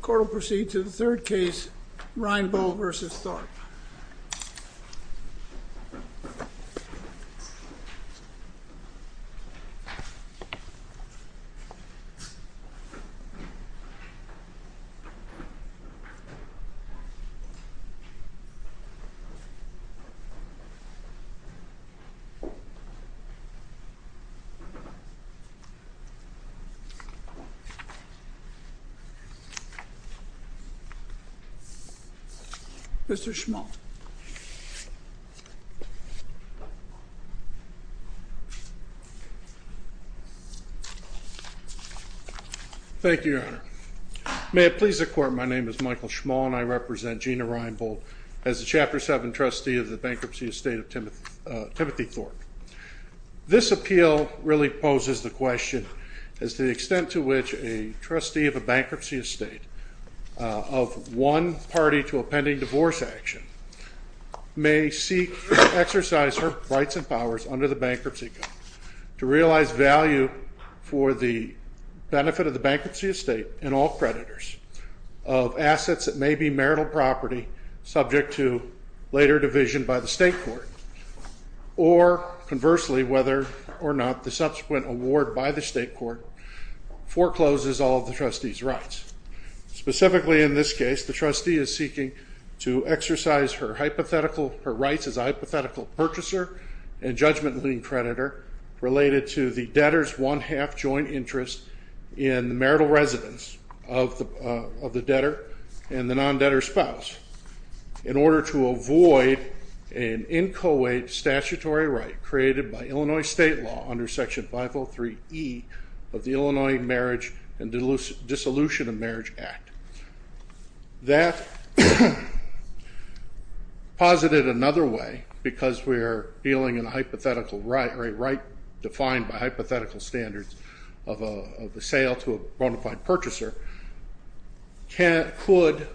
Court will proceed to the third case, Reinbold v. Thorpe. Mr. Schmall. Thank you, Your Honor. May it please the Court, my name is Michael Schmall and I represent Gena Reinbold as the Chapter 7 Trustee of the Bankruptcy Estate of Timothy Thorpe. This appeal really poses the question as to the extent to which a trustee of a bankruptcy estate of one party to a pending divorce action may seek to exercise her rights and powers under the bankruptcy code to realize value for the benefit of the bankruptcy estate and all creditors of assets that may be marital property subject to later division by the state court or conversely whether or not the subsequent award by the state court forecloses all of the trustee's rights. Specifically in this case, the trustee is seeking to exercise her rights as a hypothetical purchaser and judgment-leading creditor related to the debtor's one-half joint interest in the marital residence of the debtor and the non-debtor spouse. In order to avoid an inchoate statutory right created by Illinois state law under Section 503E of the Illinois Marriage and Dissolution of Marriage Act. That posited another way because we are dealing in a hypothetical right or a right defined by hypothetical standards of a sale to a bona fide purchaser. Could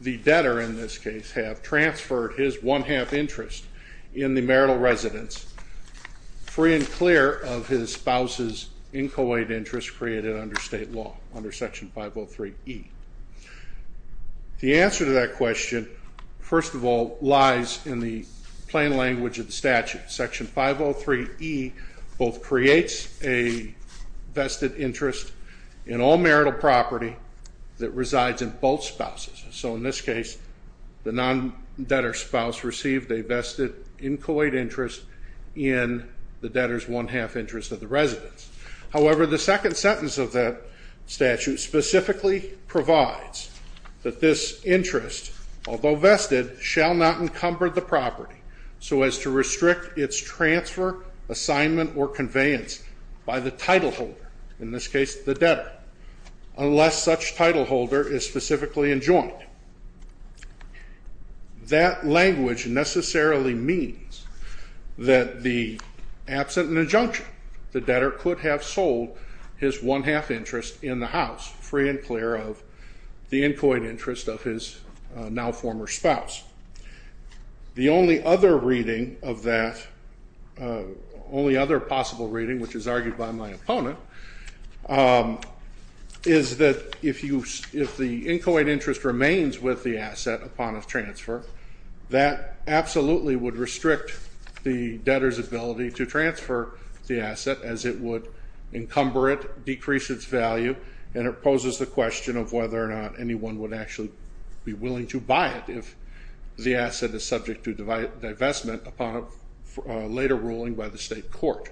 the debtor in this case have transferred his one-half interest in the marital residence free and clear of his spouse's inchoate interest created under state law under Section 503E. The answer to that question, first of all, lies in the plain language of the statute. Section 503E both creates a vested interest in all marital property that resides in both spouses. So in this case, the non-debtor spouse received a vested inchoate interest in the debtor's one-half interest of the residence. However, the second sentence of that statute specifically provides that this interest, although vested, shall not encumber the property so as to restrict its transfer, assignment, or conveyance by the title holder, in this case the debtor, unless such title holder is specifically enjoined. That language necessarily means that the absent an injunction. The debtor could have sold his one-half interest in the house free and clear of the inchoate interest of his now former spouse. The only other reading of that, only other possible reading which is argued by my opponent, is that if the inchoate interest remains with the asset upon its transfer, that absolutely would restrict the debtor's ability to transfer the asset as it would encumber it, decrease its value, and it poses the question of whether or not anyone would actually be willing to buy it if the asset is subject to divestment upon a later ruling by the state court.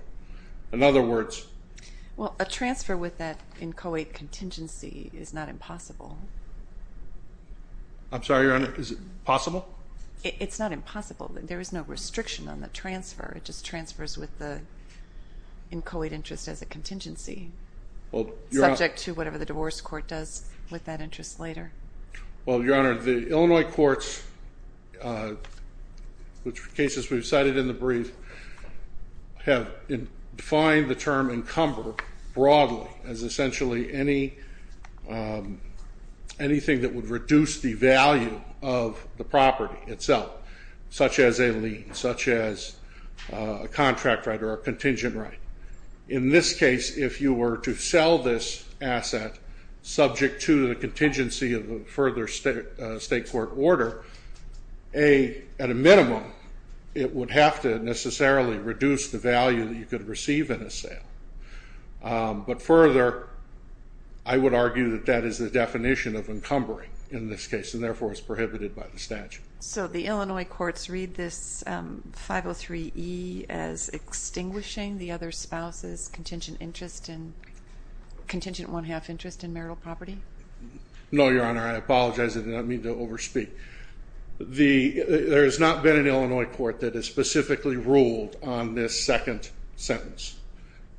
In other words... Well, a transfer with that inchoate contingency is not impossible. I'm sorry, Your Honor, is it possible? It's not impossible. There is no restriction on the transfer. It just transfers with the inchoate interest as a contingency, subject to whatever the divorce court does with that interest later. Well, Your Honor, the Illinois courts, which are cases we've cited in the brief, have defined the term encumber broadly as essentially anything that would reduce the value of the property itself, such as a lien, such as a contract right or a contingent right. In this case, if you were to sell this asset subject to the contingency of a further state court order, at a minimum, it would have to necessarily reduce the value that you could receive in a sale. But further, I would argue that that is the definition of encumbering in this case, and therefore it's prohibited by the statute. So the Illinois courts read this 503E as extinguishing the other spouse's contingent one-half interest in marital property? No, Your Honor, I apologize. I did not mean to over-speak. There has not been an Illinois court that has specifically ruled on this second sentence,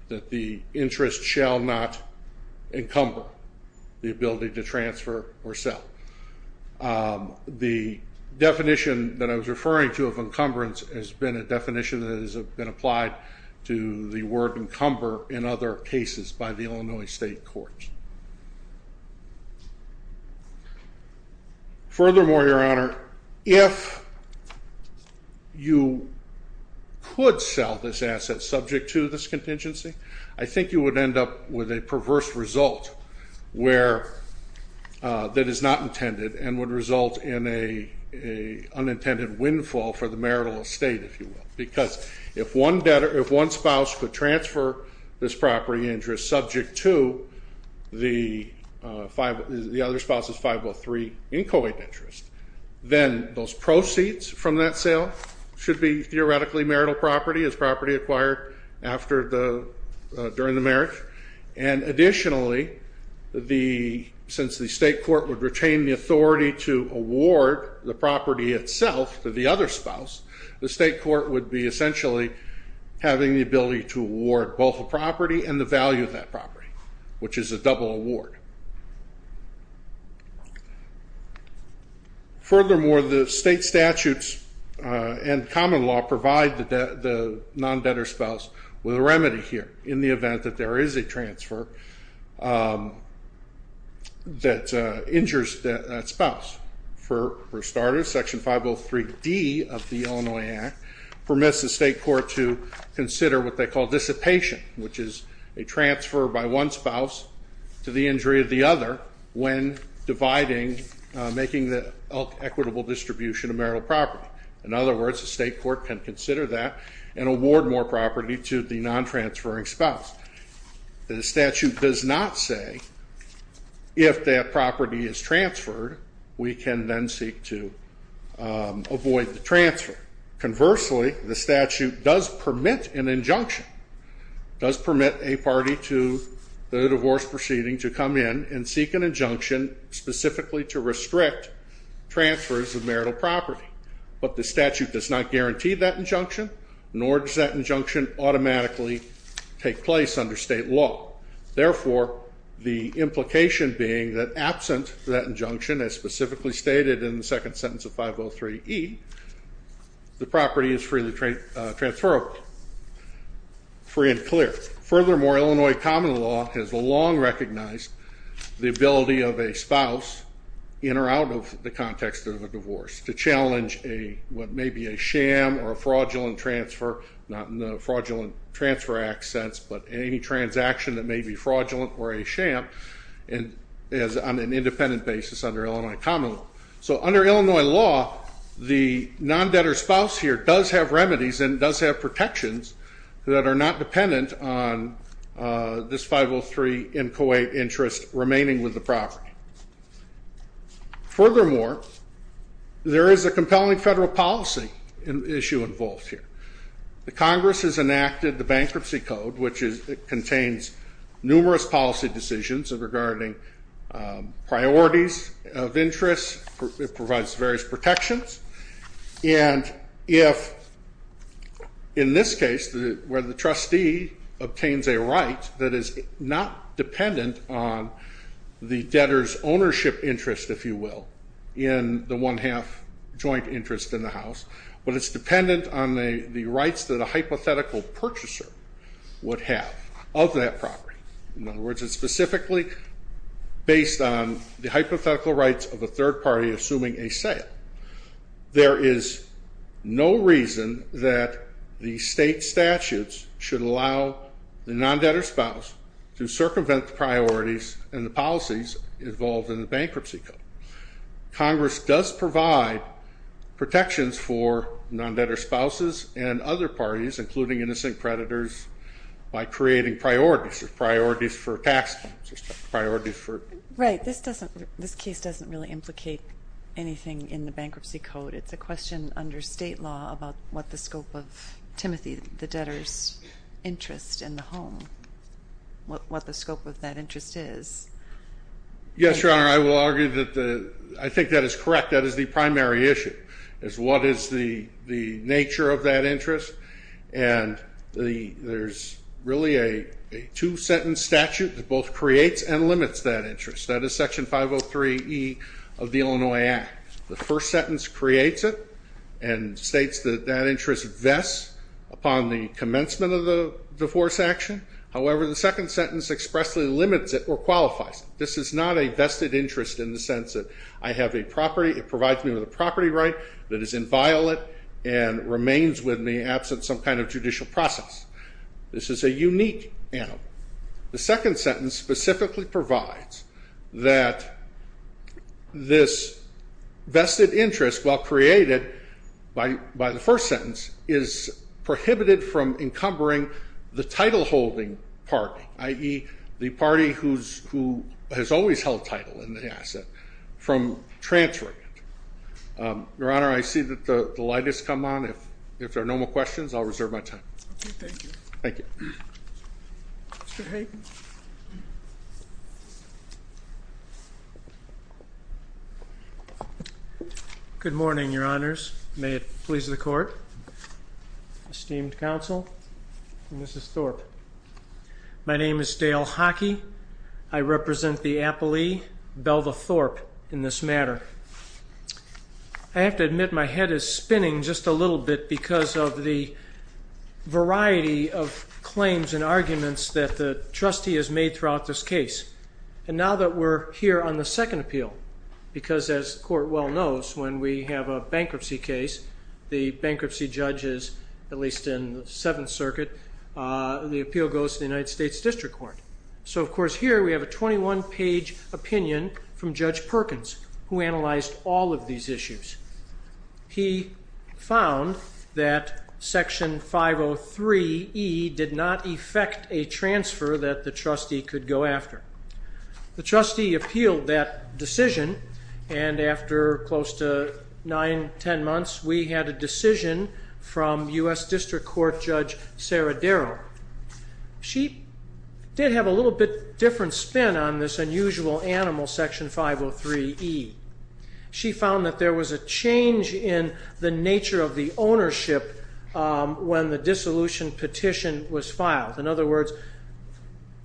that the interest shall not encumber the ability to transfer or sell. The definition that I was referring to of encumbrance has been a definition that has been applied to the word Furthermore, Your Honor, if you could sell this asset subject to this contingency, I think you would end up with a perverse result that is not intended and would result in an unintended windfall for the marital estate, if you will. Because if one spouse could transfer this property interest subject to the other spouse's 503 inchoate interest, then those proceeds from that sale should be theoretically marital property, as property acquired during the marriage. And additionally, since the state court would retain the authority to award the property itself to the other spouse, the state court would be essentially having the ability to award both the property and the value of that property, which is a double award. Furthermore, the state statutes and common law provide the non-debtor spouse with a remedy here, in the event that there is a transfer that injures that spouse. For starters, Section 503D of the Illinois Act permits the state court to consider what they call dissipation, which is a transfer by one spouse to the injury of the other when dividing, making the equitable distribution of marital property. In other words, the state court can consider that and award more property to the non-transferring spouse. The statute does not say if that property is transferred, we can then seek to avoid the transfer. Conversely, the statute does permit an injunction, does permit a party to the divorce proceeding to come in and seek an injunction specifically to restrict transfers of marital property. But the statute does not guarantee that injunction, nor does that injunction automatically take place under state law. Therefore, the implication being that absent that injunction, as specifically stated in the second sentence of 503E, the property is freely transferable, free and clear. Furthermore, Illinois common law has long recognized the ability of a spouse, in or out of the context of a divorce, to challenge what may be a sham or a fraudulent transfer, not in the Fraudulent Transfer Act sense, but any transaction that may be fraudulent or a sham, on an independent basis under Illinois common law. So under Illinois law, the non-debtor spouse here does have remedies and does have protections that are not dependent on this 503 inchoate interest remaining with the property. Furthermore, there is a compelling federal policy issue involved here. The Congress has enacted the Bankruptcy Code, which contains numerous policy decisions regarding priorities of interest. It provides various protections, and if, in this case, where the trustee obtains a right that is not dependent on the debtor's ownership interest, if you will, in the one-half joint interest in the house, but it's dependent on the rights that a hypothetical purchaser would have of that property. In other words, it's specifically based on the hypothetical rights of a third party assuming a sale. There is no reason that the state statutes should allow the non-debtor spouse to circumvent the priorities and the policies involved in the Bankruptcy Code. Congress does provide protections for non-debtor spouses and other parties, including innocent creditors, by creating priorities, priorities for tax purposes, priorities for... Right. This case doesn't really implicate anything in the Bankruptcy Code. It's a question under state law about what the scope of Timothy the debtor's interest in the home, what the scope of that interest is. Yes, Your Honor, I will argue that I think that is correct. That is the primary issue is what is the nature of that interest, and there's really a two-sentence statute that both creates and limits that interest. That is Section 503E of the Illinois Act. The first sentence creates it and states that that interest vests upon the commencement of the divorce action. However, the second sentence expressly limits it or qualifies it. This is not a vested interest in the sense that I have a property, it provides me with a property right that is inviolate and remains with me absent some kind of judicial process. This is a unique animal. The second sentence specifically provides that this vested interest, while created by the first sentence, is prohibited from encumbering the title-holding party, i.e., the party who has always held title in the asset, from transferring it. Your Honor, I see that the light has come on. If there are no more questions, I'll reserve my time. Okay, thank you. Thank you. Mr. Hayden. Good morning, Your Honors. May it please the Court, esteemed counsel, and Mrs. Thorpe. My name is Dale Hockey. I represent the appellee, Belva Thorpe, in this matter. I have to admit my head is spinning just a little bit because of the variety of claims and arguments that the trustee has made throughout this case. And now that we're here on the second appeal, because as the Court well knows, when we have a bankruptcy case, the bankruptcy judge is at least in the Seventh Circuit, the appeal goes to the United States District Court. So, of course, here we have a 21-page opinion from Judge Perkins, who analyzed all of these issues. He found that Section 503E did not effect a transfer that the trustee could go after. The trustee appealed that decision, and after close to nine, ten months, we had a decision from U.S. District Court Judge Sarah Darrow. She did have a little bit different spin on this unusual animal, Section 503E. She found that there was a change in the nature of the ownership when the dissolution petition was filed. In other words,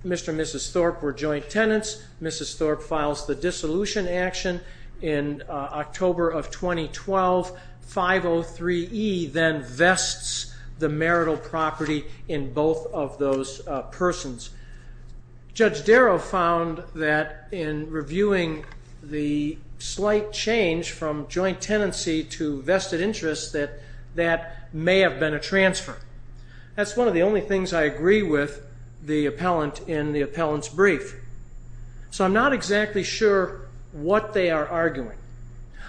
Mr. and Mrs. Thorpe were joint tenants. Mrs. Thorpe files the dissolution action in October of 2012. 503E then vests the marital property in both of those persons. Judge Darrow found that in reviewing the slight change from joint tenancy to vested interest that that may have been a transfer. That's one of the only things I agree with the appellant in the appellant's brief. So I'm not exactly sure what they are arguing.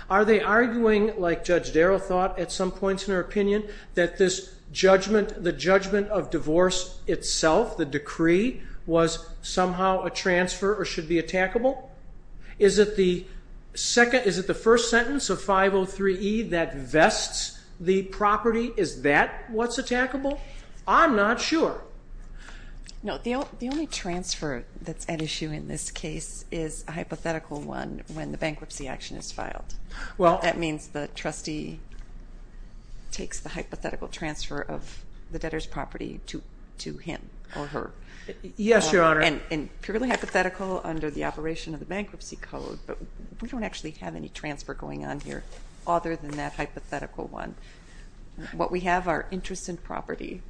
Are they arguing, like Judge Darrow thought at some points in her opinion, that the judgment of divorce itself, the decree, was somehow a transfer or should be attackable? Is it the first sentence of 503E that vests the property? Is that what's attackable? I'm not sure. No, the only transfer that's at issue in this case is a hypothetical one when the bankruptcy action is filed. That means the trustee takes the hypothetical transfer of the debtor's property to him or her. Yes, Your Honor. And purely hypothetical under the operation of the bankruptcy code, but we don't actually have any transfer going on here other than that hypothetical one. What we have are interest in property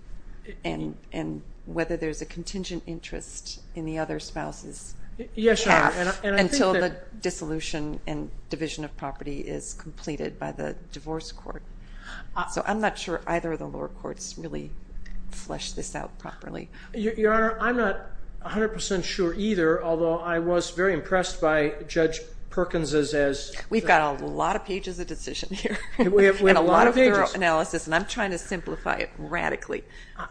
and whether there's a contingent interest in the other spouse's half until the dissolution and division of property is completed by the divorce court. So I'm not sure either of the lower courts really fleshed this out properly. Your Honor, I'm not 100% sure either, although I was very impressed by Judge Perkins's as... We've got a lot of pages of decision here and a lot of thorough analysis, and I'm trying to simplify it radically.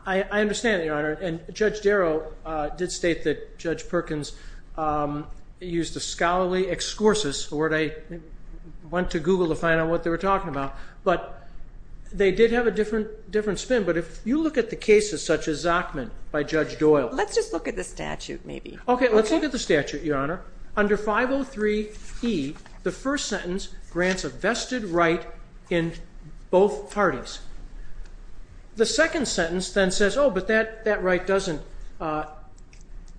I understand, Your Honor. And Judge Darrow did state that Judge Perkins used the scholarly excursus, a word I went to Google to find out what they were talking about. But they did have a different spin. But if you look at the cases such as Zachman by Judge Doyle... Let's just look at the statute maybe. Okay, let's look at the statute, Your Honor. Under 503E, the first sentence grants a vested right in both parties. The second sentence then says, oh, but that right doesn't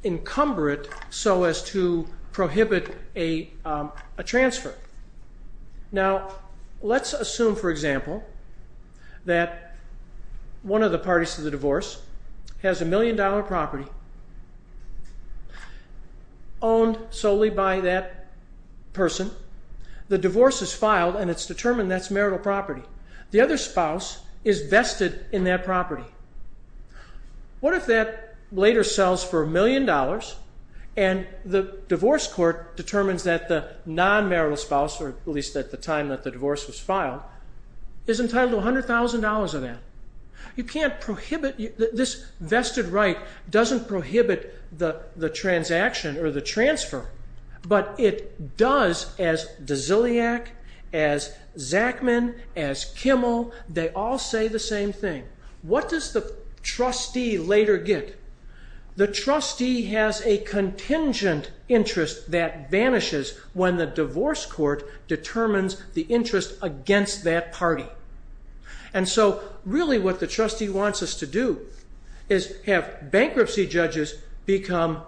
encumber it so as to prohibit a transfer. Now, let's assume, for example, that one of the parties to the divorce has a million-dollar property owned solely by that person. The divorce is filed, and it's determined that's marital property. The other spouse is vested in that property. What if that later sells for a million dollars, and the divorce court determines that the non-marital spouse, or at least at the time that the divorce was filed, is entitled to $100,000 of that? You can't prohibit... This vested right doesn't prohibit the transaction or the transfer, but it does as Dziliak, as Zachman, as Kimmel. They all say the same thing. What does the trustee later get? The trustee has a contingent interest that vanishes when the divorce court determines the interest against that party. And so really what the trustee wants us to do is have bankruptcy judges become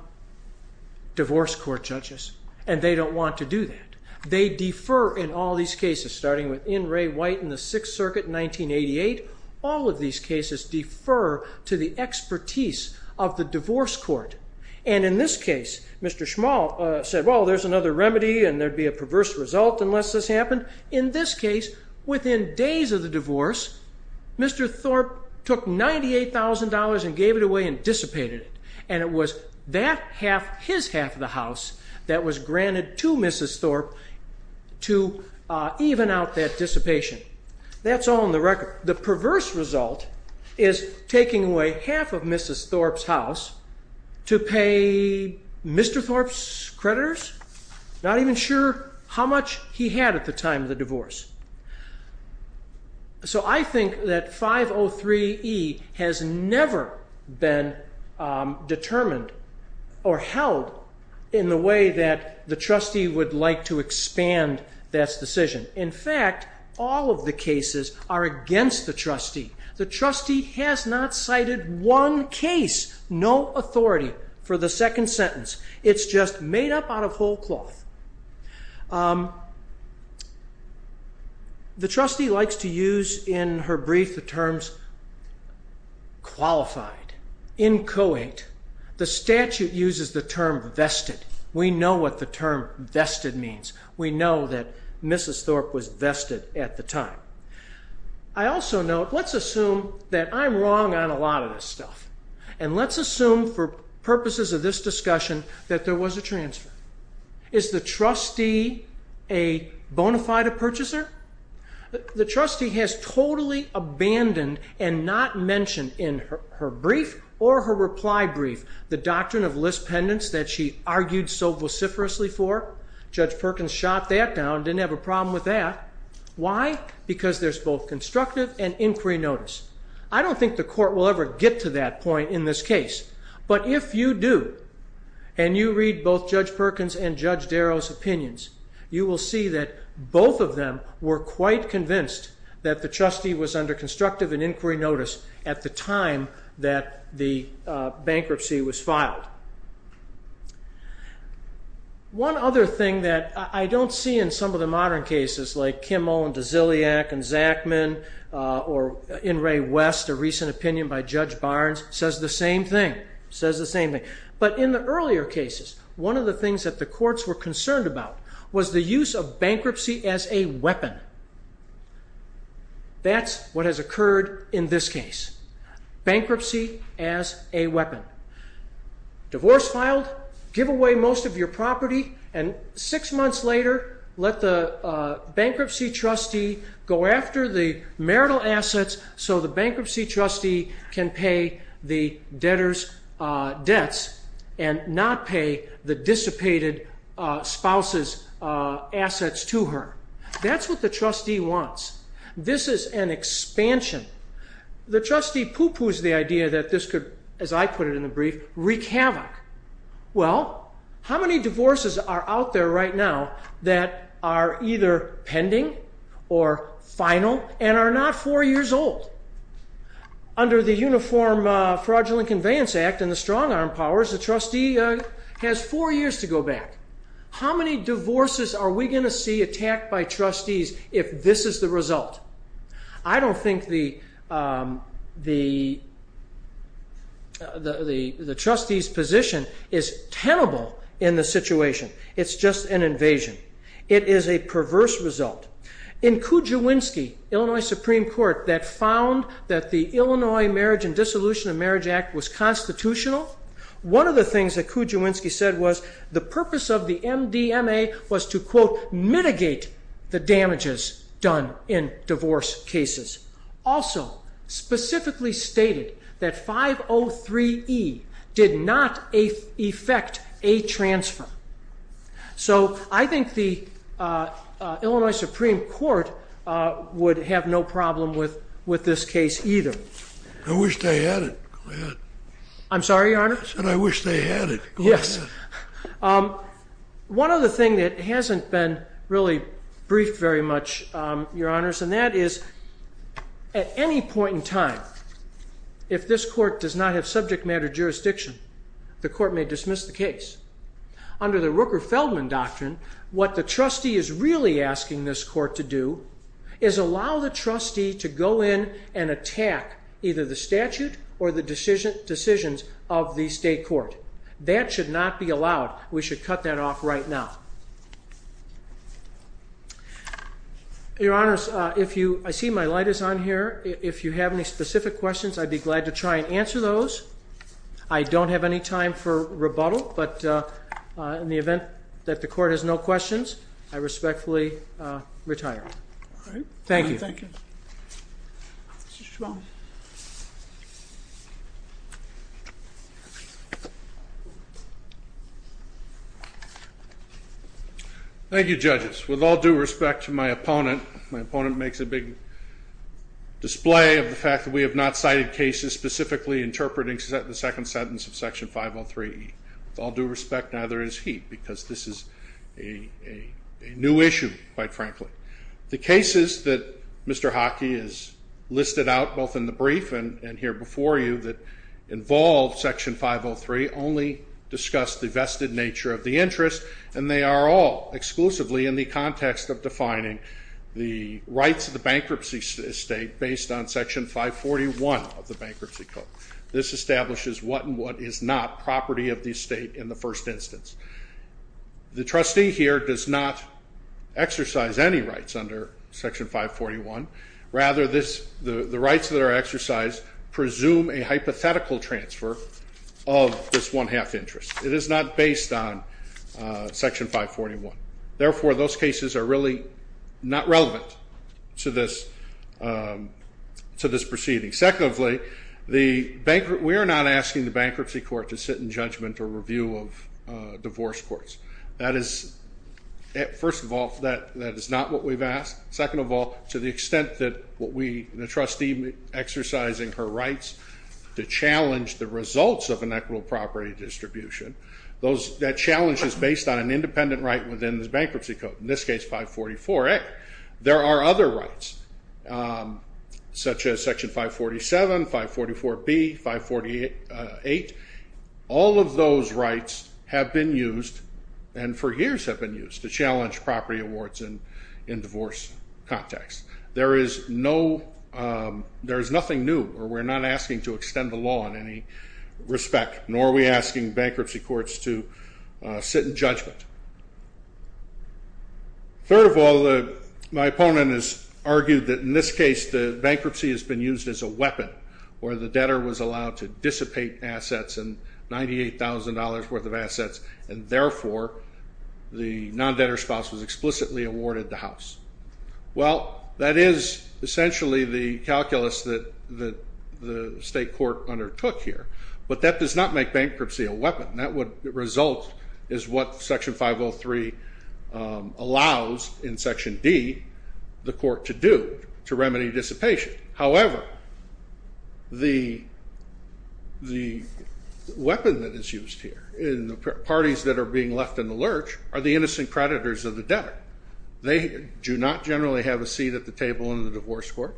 divorce court judges, and they don't want to do that. They defer in all these cases, starting with N. Ray White in the Sixth Circuit in 1988. All of these cases defer to the expertise of the divorce court. And in this case, Mr. Schmall said, well, there's another remedy, and there'd be a perverse result unless this happened. In this case, within days of the divorce, Mr. Thorpe took $98,000 and gave it away and dissipated it. And it was that half, his half of the house, that was granted to Mrs. Thorpe to even out that dissipation. That's all in the record. The perverse result is taking away half of Mrs. Thorpe's house to pay Mr. Thorpe's creditors? Not even sure how much he had at the time of the divorce. So I think that 503E has never been determined or held in the way that the trustee would like to expand that decision. In fact, all of the cases are against the trustee. The trustee has not cited one case, no authority for the second sentence. It's just made up out of whole cloth. The trustee likes to use in her brief the terms qualified, inchoate. The statute uses the term vested. We know what the term vested means. We know that Mrs. Thorpe was vested at the time. I also note, let's assume that I'm wrong on a lot of this stuff. And let's assume for purposes of this discussion that there was a transfer. Is the trustee a bona fide purchaser? The trustee has totally abandoned and not mentioned in her brief or her reply brief the doctrine of list pendants that she argued so vociferously for. Judge Perkins shot that down, didn't have a problem with that. Why? Because there's both constructive and inquiry notice. I don't think the court will ever get to that point in this case. But if you do, and you read both Judge Perkins and Judge Darrow's opinions, you will see that both of them were quite convinced that the trustee was under constructive and inquiry notice at the time that the bankruptcy was filed. One other thing that I don't see in some of the modern cases, like Kimmo and DeZilliac and Zachman, or in Ray West, a recent opinion by Judge Barnes, says the same thing. Says the same thing. But in the earlier cases, one of the things that the courts were concerned about was the use of bankruptcy as a weapon. That's what has occurred in this case. Bankruptcy as a weapon. Divorce filed. Give away most of your property. And six months later, let the bankruptcy trustee go after the marital assets so the bankruptcy trustee can pay the debtor's debts and not pay the dissipated spouse's assets to her. That's what the trustee wants. This is an expansion. The trustee pooh-poohs the idea that this could, as I put it in the brief, wreak havoc. Well, how many divorces are out there right now that are either pending or final and are not four years old? Under the Uniform Fraudulent Conveyance Act and the strong arm powers, the trustee has four years to go back. How many divorces are we going to see attacked by trustees if this is the result? I don't think the trustee's position is tenable in this situation. It's just an invasion. It is a perverse result. In Kujawinski, Illinois Supreme Court, that found that the Illinois Marriage and Dissolution of Marriage Act was constitutional, one of the things that Kujawinski said was the purpose of the MDMA was to, quote, mitigate the damages done in divorce cases. Also, specifically stated that 503E did not effect a transfer. So I think the Illinois Supreme Court would have no problem with this case either. I wish they had it. Go ahead. I'm sorry, Your Honor? I said I wish they had it. Go ahead. Yes. One other thing that hasn't been really briefed very much, Your Honors, and that is at any point in time, if this court does not have subject matter jurisdiction, the court may dismiss the case. Under the Rooker-Feldman doctrine, what the trustee is really asking this court to do is allow the trustee to go in and attack either the statute or the decisions of the state court. That should not be allowed. We should cut that off right now. Your Honors, I see my light is on here. If you have any specific questions, I'd be glad to try and answer those. I don't have any time for rebuttal, but in the event that the court has no questions, I respectfully retire. All right. Thank you. Thank you. Mr. Schwalm. Thank you, Judges. With all due respect to my opponent, my opponent makes a big display of the fact that we have not cited cases specifically interpreting the second sentence of Section 503E. With all due respect, neither is he, because this is a new issue, quite frankly. The cases that Mr. Hockey has listed out, both in the brief and here before you, that involve Section 503 only discuss the vested nature of the interest, and they are all exclusively in the context of defining the rights of the bankruptcy state based on Section 541 of the Bankruptcy Code. This establishes what and what is not property of the state in the first instance. The trustee here does not exercise any rights under Section 541. Rather, the rights that are exercised presume a hypothetical transfer of this one-half interest. It is not based on Section 541. Therefore, those cases are really not relevant to this proceeding. Secondly, we are not asking the bankruptcy court to sit in judgment or review of divorce courts. First of all, that is not what we've asked. Second of all, to the extent that the trustee, exercising her rights to challenge the results of an equitable property distribution, that challenge is based on an independent right within the Bankruptcy Code. In this case, 544A. There are other rights, such as Section 547, 544B, 548. All of those rights have been used, and for years have been used, to challenge property awards in divorce contexts. There is nothing new, or we're not asking to extend the law in any respect, nor are we asking bankruptcy courts to sit in judgment. Third of all, my opponent has argued that in this case the bankruptcy has been used as a weapon, where the debtor was allowed to dissipate assets, and $98,000 worth of assets, and therefore the non-debtor spouse was explicitly awarded the house. Well, that is essentially the calculus that the state court undertook here, but that does not make bankruptcy a weapon. That would result is what Section 503 allows, in Section D, the court to do, to remedy dissipation. However, the weapon that is used here in the parties that are being left in the lurch are the innocent creditors of the debtor. They do not generally have a seat at the table in the divorce court.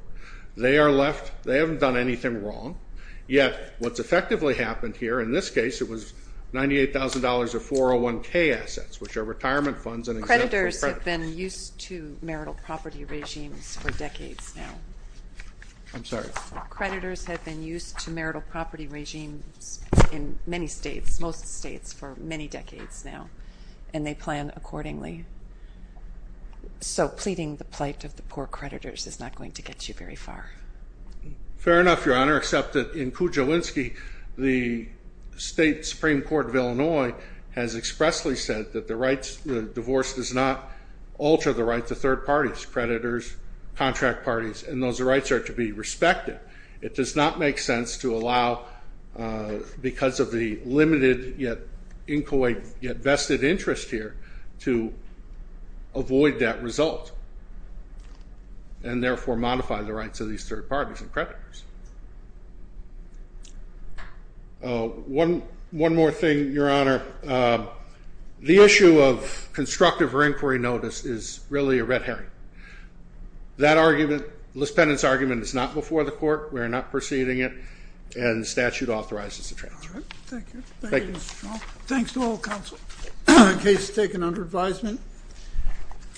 They are left, they haven't done anything wrong. Yet what's effectively happened here, in this case, it was $98,000 of 401K assets, which are retirement funds and exempt for creditors. Creditors have been used to marital property regimes for decades now. I'm sorry? Creditors have been used to marital property regimes in many states, most states, for many decades now, and they plan accordingly. So pleading the plight of the poor creditors is not going to get you very far. Fair enough, Your Honor, except that in Kujawinski, the state Supreme Court of Illinois has expressly said that the divorce does not alter the rights of third parties, creditors, contract parties, and those rights are to be respected. It does not make sense to allow, because of the limited yet vested interest here, to avoid that result and therefore modify the rights of these third parties and creditors. One more thing, Your Honor. The issue of constructive or inquiry notice is really a red herring. That argument, Lispennan's argument, is not before the court. We are not proceeding it, and the statute authorizes the transfer. Thank you. Thanks to all counsel. Case is taken under advisement.